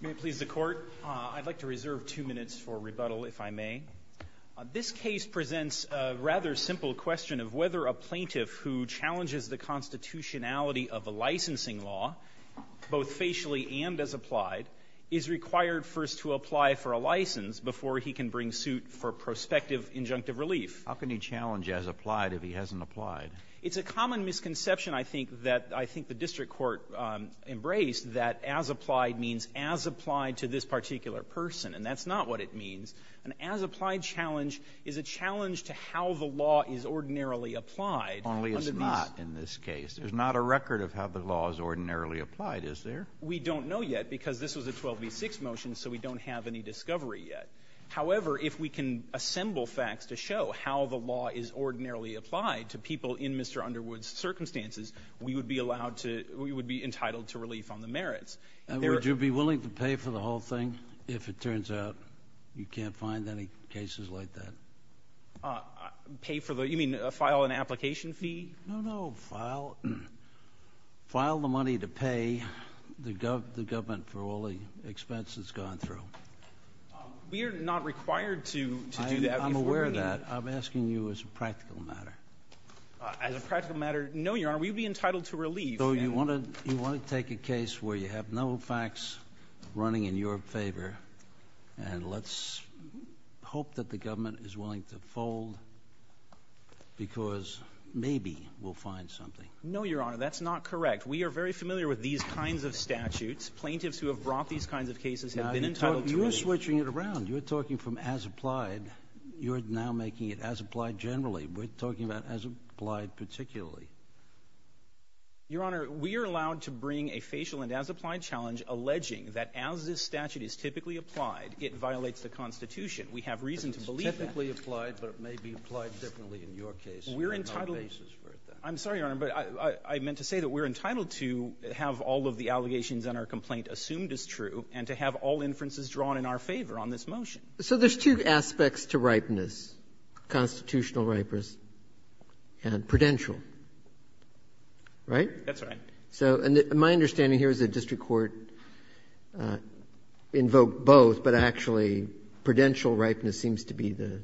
May it please the Court, I'd like to reserve two minutes for rebuttal, if I may. This case presents a rather simple question of whether a plaintiff who challenges the constitutionality of a licensing law, both facially and as applied, is required first to apply for a license before he can bring suit for prospective injunctive relief. How can he challenge as applied if he hasn't applied? It's a common misconception, I think, that I think the district court embraced, that as applied means as applied to this particular person, and that's not what it means. An as applied challenge is a challenge to how the law is ordinarily applied. Only it's not in this case. There's not a record of how the law is ordinarily applied, is there? We don't know yet, because this was a 12b6 motion, so we don't have any discovery yet. However, if we can assemble facts to show how the law is ordinarily applied to people in Mr. Underwood's circumstances, we would be allowed to, we would be entitled to relief on the merits. Would you be willing to pay for the whole thing, if it turns out you can't find any cases like that? Pay for the, you mean file an application fee? No, no. File, file the money to pay the government for all the expenses gone through. We are not required to do that. I'm aware of that. I'm asking you as a practical matter. As a practical matter, no, Your Honor, we'd be entitled to relief. So you want to, you want to take a case where you have no facts running in your favor, and let's hope that the government is willing to fold, because maybe we'll find something. No, Your Honor, that's not correct. We are very familiar with these kinds of statutes. Plaintiffs who have brought these kinds of cases have been entitled to relief. You're switching it around. You're talking from as applied, you're now making it as applied generally. We're talking about as applied particularly. Your Honor, we are allowed to bring a facial and as applied challenge alleging that as this statute is typically applied, it violates the Constitution. We have reason to believe that. It's typically applied, but it may be applied differently in your case. We're entitled to do that. I'm sorry, Your Honor, but I meant to say that we're entitled to have all of the allegations in our complaint assumed as true and to have all inferences drawn in our favor on this motion. So there's two aspects to ripeness, constitutional ripeness and prudential, right? That's right. So my understanding here is that district court invoked both, but actually prudential ripeness seems to be the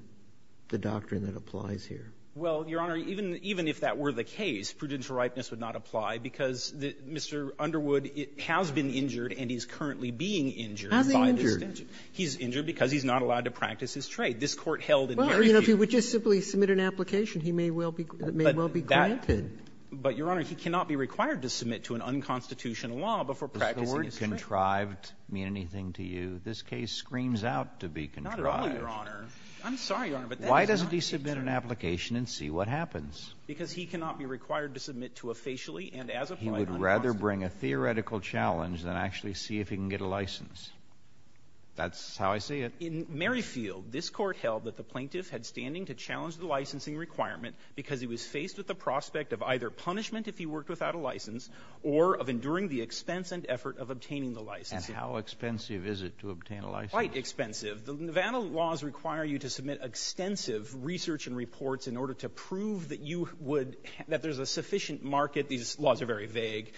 doctrine that applies here. Well, Your Honor, even if that were the case, prudential ripeness would not apply because Mr. Underwood has been injured and he's currently being injured by this statute. Has he injured? He's injured because he's not allowed to practice his trade. This Court held in the issue. Well, you know, if he would just simply submit an application, he may well be granted. But, Your Honor, he cannot be required to submit to an unconstitutional law before practicing his trade. Does the word contrived mean anything to you? This case screams out to be contrived. Not at all, Your Honor. I'm sorry, Your Honor, but that is not a contrived case. Why doesn't he submit an application and see what happens? Because he cannot be required to submit to a facially and as applied unconstitutional law. He would rather bring a theoretical challenge than actually see if he can get a license. That's how I see it. In Merrifield, this Court held that the plaintiff had standing to challenge the licensing requirement because he was faced with the prospect of either punishment if he worked without a license or of enduring the expense and effort of obtaining the license. And how expensive is it to obtain a license? Quite expensive. The Nevada laws require you to submit extensive research and reports in order to prove that you would — that there's a sufficient market — these laws are very vague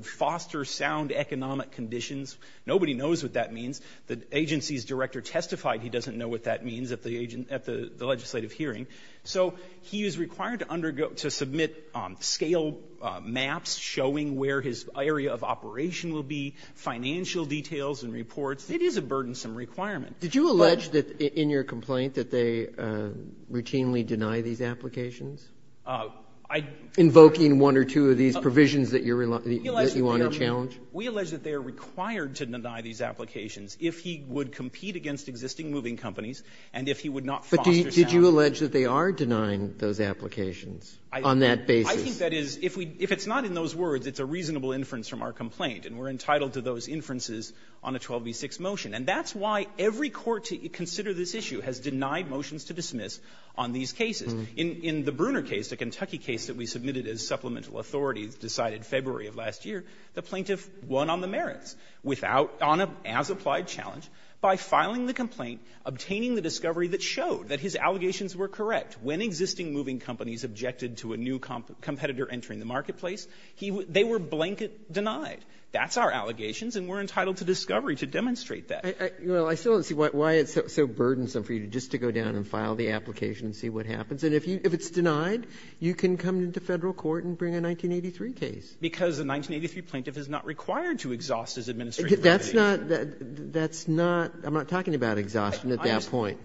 — to economic conditions. Nobody knows what that means. The agency's director testified he doesn't know what that means at the legislative hearing. So he is required to undergo — to submit scale maps showing where his area of operation will be, financial details and reports. It is a burdensome requirement. Did you allege that, in your complaint, that they routinely deny these applications? Invoking one or two of these provisions that you're — that you want to challenge? We allege that they are required to deny these applications if he would compete against existing moving companies and if he would not foster sound. But did you allege that they are denying those applications on that basis? I think that is — if we — if it's not in those words, it's a reasonable inference from our complaint, and we're entitled to those inferences on a 12b-6 motion. And that's why every court to consider this issue has denied motions to dismiss on these cases. In the Bruner case, the Kentucky case that we submitted as supplemental authority decided February of last year, the plaintiff won on the merits without — on a as-applied challenge by filing the complaint, obtaining the discovery that showed that his allegations were correct. When existing moving companies objected to a new competitor entering the marketplace, he — they were blanket denied. That's our allegations, and we're entitled to discovery to demonstrate that. Well, I still don't see why it's so burdensome for you just to go down and file the application and see what happens. And if you — if it's denied, you can come into Federal court and bring a 1983 case. Because the 1983 plaintiff is not required to exhaust his administrative obligation. That's not — that's not — I'm not talking about exhaustion at that point.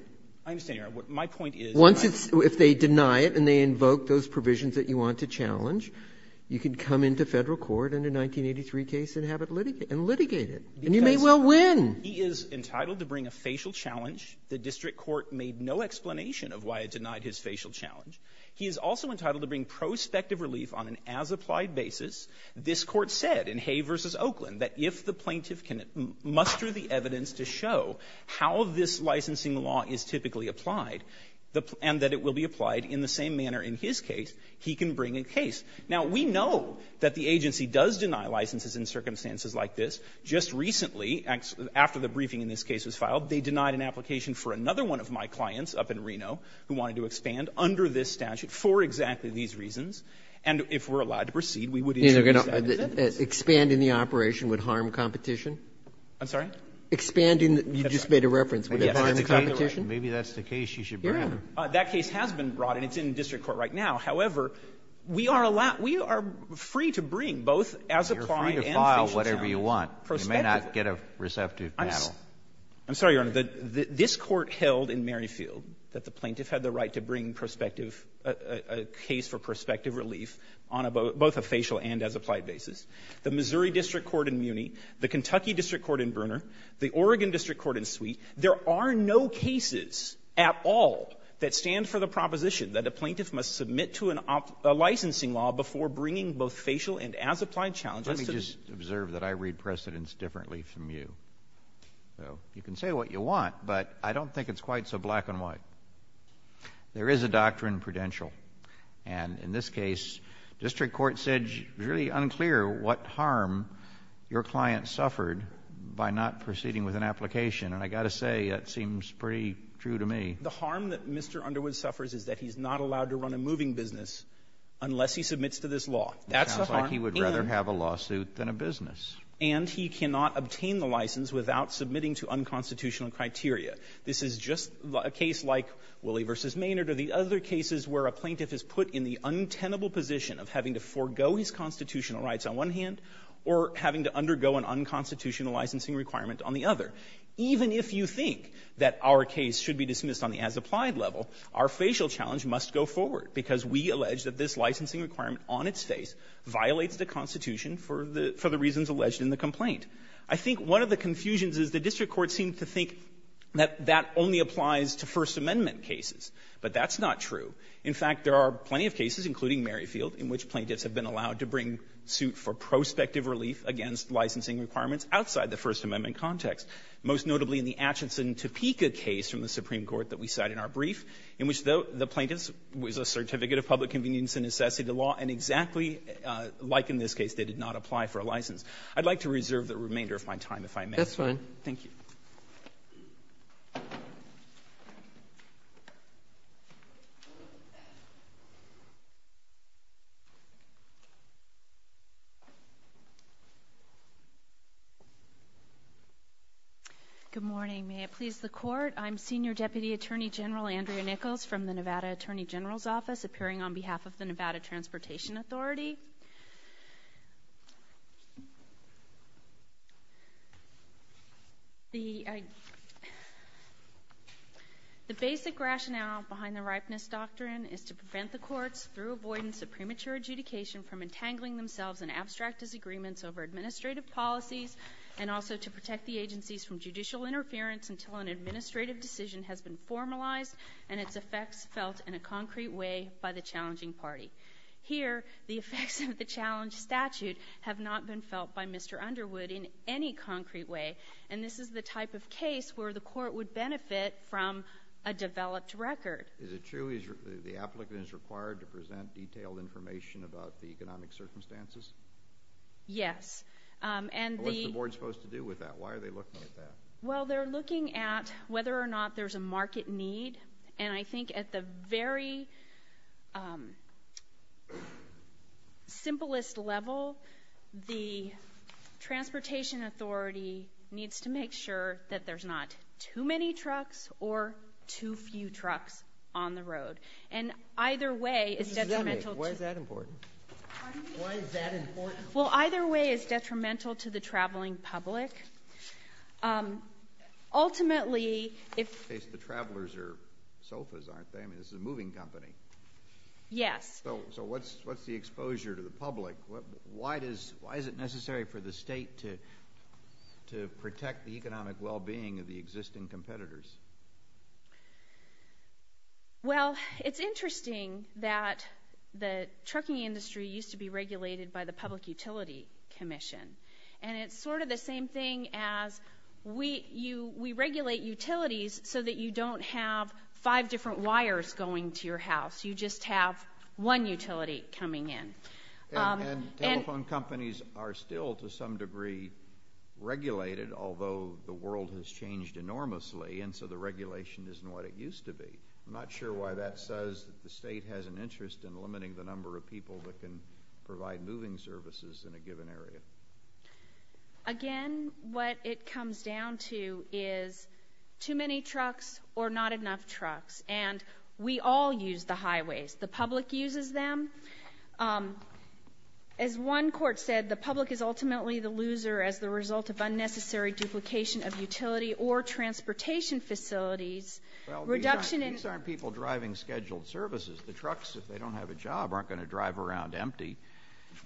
I understand, Your Honor. My point is — Once it's — if they deny it and they invoke those provisions that you want to challenge, you can come into Federal court in a 1983 case and have it litigated. And you may well win. He is entitled to bring a facial challenge. The district court made no explanation of why it denied his facial challenge. He is also entitled to bring prospective relief on an as-applied basis. This Court said in Hay v. Oakland that if the plaintiff can muster the evidence to show how this licensing law is typically applied, the — and that it will be applied in the same manner in his case, he can bring a case. Now, we know that the agency does deny licenses in circumstances like this. Just recently, after the briefing in this case was filed, they denied an application for another one of my clients up in Reno who wanted to expand under this statute for exactly these reasons. And if we're allowed to proceed, we would introduce that. Is that it? Expanding the operation would harm competition? I'm sorry? Expanding the — you just made a reference. Would it harm the competition? Maybe that's the case you should bring. Your Honor, that case has been brought, and it's in district court right now. However, we are allowed — we are free to bring both as-applied and facial challenge. You're free to file whatever you want. You may not get a receptive battle. I'm sorry, Your Honor. This Court held in Merrifield that the plaintiff had the right to bring prospective — a case for prospective relief on both a facial and as-applied basis. The Missouri district court in Muni, the Kentucky district court in Brunner, the Oregon district court in Sweet, there are no cases at all that stand for the proposition that a plaintiff must submit to an licensing law before bringing both facial and as-applied challenges to the — I always observe that I read precedents differently from you. So, you can say what you want, but I don't think it's quite so black and white. There is a doctrine prudential, and in this case, district court said it's really unclear what harm your client suffered by not proceeding with an application, and I've got to say that seems pretty true to me. The harm that Mr. Underwood suffers is that he's not allowed to run a moving business unless he submits to this law. That's the harm. And he would rather have a lawsuit than a business. And he cannot obtain the license without submitting to unconstitutional criteria. This is just a case like Willie v. Maynard or the other cases where a plaintiff is put in the untenable position of having to forego his constitutional rights on one hand or having to undergo an unconstitutional licensing requirement on the other. Even if you think that our case should be dismissed on the as-applied level, our facial challenge must go forward, because we allege that this licensing requirement on its face violates the Constitution for the reasons alleged in the complaint. I think one of the confusions is the district court seemed to think that that only applies to First Amendment cases, but that's not true. In fact, there are plenty of cases, including Merrifield, in which plaintiffs have been allowed to bring suit for prospective relief against licensing requirements outside the First Amendment context, most notably in the Atchison-Topeka case from the Supreme Court that we cite in our brief, in which the plaintiff was a certificate of public convenience and necessity to law, and exactly like in this case, they did not apply for a license. I'd like to reserve the remainder of my time, if I may. Robertson, that's fine. Thank you. Good morning. May it please the Court. I'm Senior Deputy Attorney General Andrea Nichols from the Nevada Attorney General's Office, appearing on behalf of the Nevada Transportation Authority. The basic rationale behind the ripeness doctrine is to prevent the courts, through avoidance of premature adjudication, from entangling themselves in abstract disagreements over administrative policies, and also to protect the agencies from judicial interference until an administrative decision has been formalized and its effects felt in a concrete way by the challenging party. Here, the effects of the challenge statute have not been felt by Mr. Underwood in any concrete way, and this is the type of case where the Court would benefit from a developed record. Is it true the applicant is required to present detailed information about the economic circumstances? Yes. And the — What's the Board supposed to do with that? Why are they looking at that? Well, they're looking at whether or not there's a market need. And I think at the very simplest level, the Transportation Authority needs to make sure that there's not too many trucks or too few trucks on the road. And either way, it's detrimental to — Why is that important? Pardon me? Why is that important? Well, either way, it's detrimental to the traveling public. Ultimately, if — In this case, the travelers are sofas, aren't they? I mean, this is a moving company. Yes. So what's the exposure to the public? Why is it necessary for the state to protect the economic well-being of the existing competitors? Well, it's interesting that the trucking industry used to be regulated by the Public Utility Commission. And it's sort of the same thing as we regulate utilities so that you don't have five different wires going to your house. You just have one utility coming in. And telephone companies are still, to some degree, regulated, although the world has changed enormously, and so the regulation isn't what it used to be. I'm not sure why that says that the state has an interest in limiting the number of moving services in a given area. Again, what it comes down to is too many trucks or not enough trucks. And we all use the highways. The public uses them. As one court said, the public is ultimately the loser as the result of unnecessary duplication of utility or transportation facilities. Well, these aren't people driving scheduled services. The trucks, if they don't have a job, aren't going to drive around empty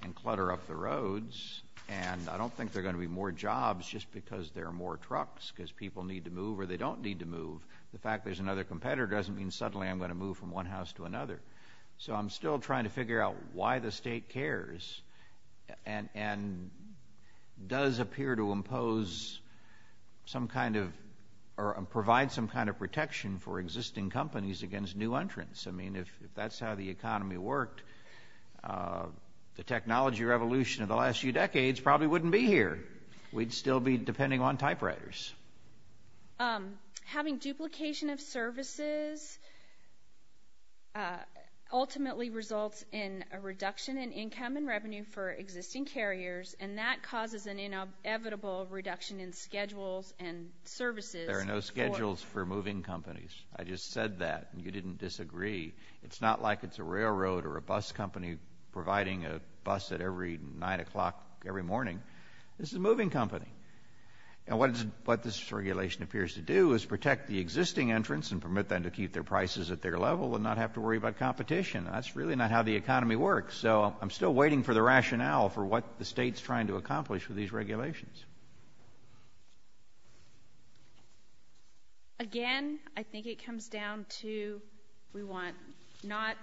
and clutter up the roads. And I don't think there are going to be more jobs just because there are more trucks because people need to move or they don't need to move. The fact there's another competitor doesn't mean suddenly I'm going to move from one house to another. So I'm still trying to figure out why the state cares and does appear to impose some kind of or provide some kind of protection for existing companies against new entrants. I mean, if that's how the economy worked, the technology revolution of the last few decades probably wouldn't be here. We'd still be depending on typewriters. Having duplication of services ultimately results in a reduction in income and revenue for existing carriers, and that causes an inevitable reduction in schedules and services. There are no schedules for moving companies. I just said that. You didn't disagree. It's not like it's a railroad or a bus company providing a bus at every 9 o'clock every morning. This is a moving company. And what this regulation appears to do is protect the existing entrants and permit them to keep their prices at their level and not have to worry about competition. That's really not how the economy works. So I'm still waiting for the rationale for what the state's trying to accomplish with these regulations. Again, I think it comes down to we want not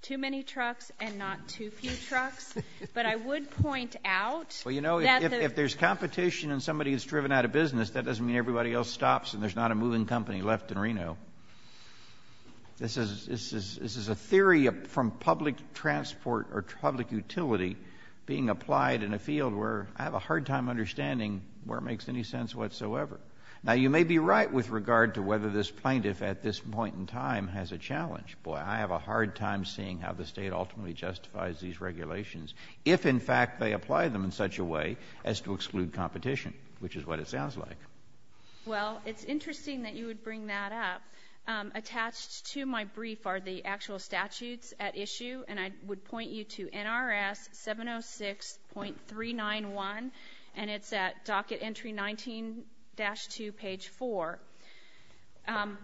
too many trucks and not too few trucks. But I would point out that the – Well, you know, if there's competition and somebody is driven out of business, that doesn't mean everybody else stops and there's not a moving company left in Reno. This is a theory from public transport or public utility being applied in a field where I have a hard time understanding where it makes any sense whatsoever. Now, you may be right with regard to whether this plaintiff at this point in time has a challenge. Boy, I have a hard time seeing how the state ultimately justifies these regulations if, in fact, they apply them in such a way as to exclude competition, which is what it sounds like. Well, it's interesting that you would bring that up. Attached to my brief are the actual statutes at issue. And I would point you to NRS 706.391. And it's at docket entry 19-2, page 4.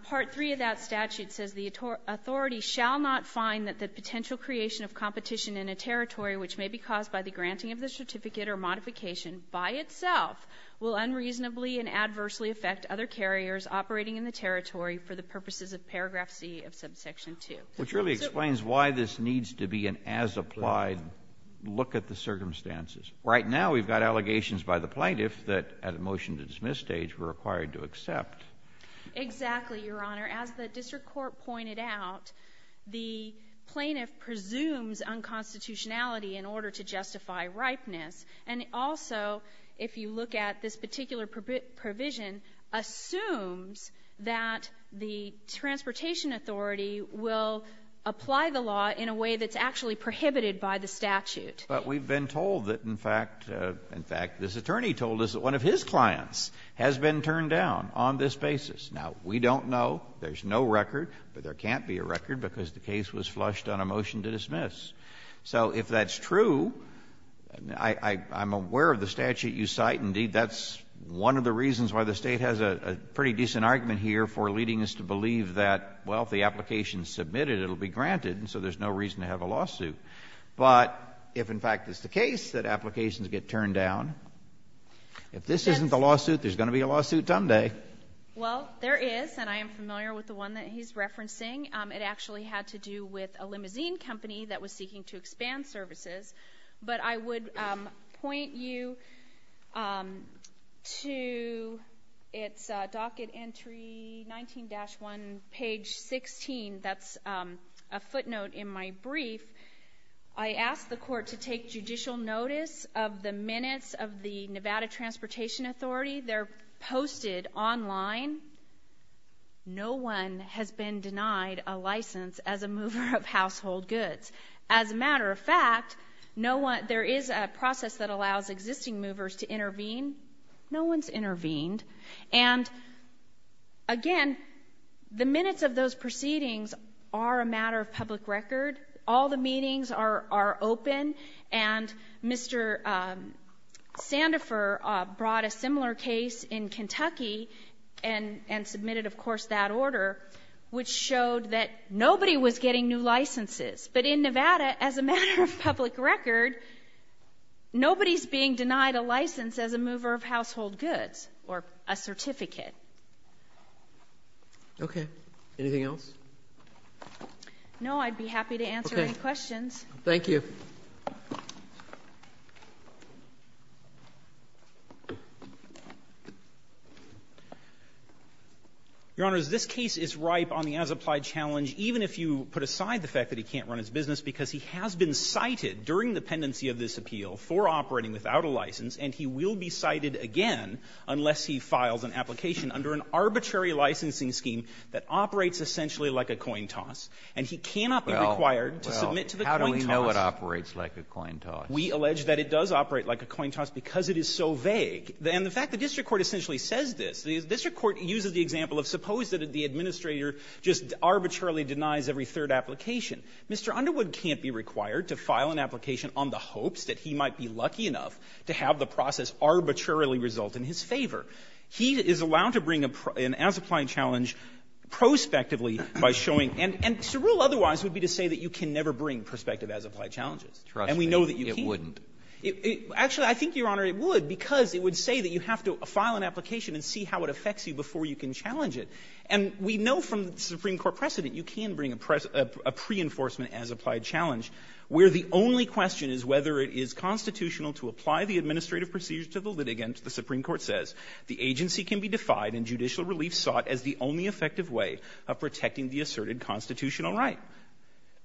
Part 3 of that statute says the authority shall not find that the potential creation of competition in a territory which may be caused by the granting of the certificate or modification by itself will unreasonably and adversely affect other carriers operating in the territory for the purposes of paragraph C of subsection 2. Which really explains why this needs to be an as-applied look at the circumstances. Right now, we've got allegations by the plaintiff that at a motion-to-dismiss stage were required to accept. Exactly, Your Honor. As the district court pointed out, the plaintiff presumes unconstitutionality in order to justify ripeness. And also, if you look at this particular provision, assumes that the transportation authority will apply the law in a way that's actually prohibited by the statute. But we've been told that, in fact, this attorney told us that one of his clients has been turned down on this basis. Now, we don't know. There's no record. But there can't be a record because the case was flushed on a motion to dismiss. So if that's true, I'm aware of the statute you cite. Indeed, that's one of the reasons why the State has a pretty decent argument here for leading us to believe that, well, if the application is submitted, it will be granted, and so there's no reason to have a lawsuit. But if, in fact, it's the case that applications get turned down, if this isn't the lawsuit, there's going to be a lawsuit someday. Well, there is, and I am familiar with the one that he's referencing. It actually had to do with a limousine company that was seeking to expand services. But I would point you to its docket entry, 19-1, page 16. That's a footnote in my brief. I asked the court to take judicial notice of the minutes of the Nevada Transportation Authority. They're posted online. No one has been denied a license as a mover of household goods. As a matter of fact, there is a process that allows existing movers to intervene. No one's intervened. And, again, the minutes of those proceedings are a matter of public record. All the meetings are open, and Mr. Sandifer brought a similar case in Kentucky and submitted, of course, that order, which showed that nobody was getting new licenses. But in Nevada, as a matter of public record, nobody's being denied a license as a mover of household goods or a certificate. Okay. Anything else? No. I'd be happy to answer any questions. Thank you. Your Honors, this case is ripe on the as-applied challenge, even if you put aside the fact that he can't run his business, because he has been cited during the pendency of this appeal for operating without a license, and he will be cited again unless he files an application under an arbitrary licensing scheme that operates essentially like a coin toss. And he cannot be required to submit to the coin toss. Well, how do we know it operates like a coin toss? We allege that it does operate like a coin toss because it is so vague. And the fact the district court essentially says this, the district court uses the Mr. Underwood can't be required to file an application on the hopes that he might be lucky enough to have the process arbitrarily result in his favor. He is allowed to bring an as-applied challenge prospectively by showing, and to rule otherwise would be to say that you can never bring prospective as-applied challenges. And we know that you can't. It wouldn't. Actually, I think, Your Honor, it would, because it would say that you have to file an application and see how it affects you before you can challenge it. And we know from the Supreme Court precedent you can bring a pre-enforcement as-applied challenge where the only question is whether it is constitutional to apply the administrative procedure to the litigant. The Supreme Court says the agency can be defied and judicial relief sought as the only effective way of protecting the asserted constitutional right.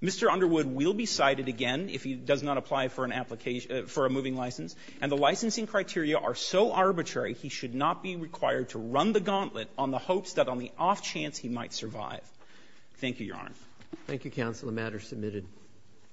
Mr. Underwood will be cited again if he does not apply for an application for a moving license. And the licensing criteria are so arbitrary he should not be required to run the gauntlet on the hopes that on the off chance he might survive. Thank you, Your Honor. Thank you, Counsel. The matter is submitted.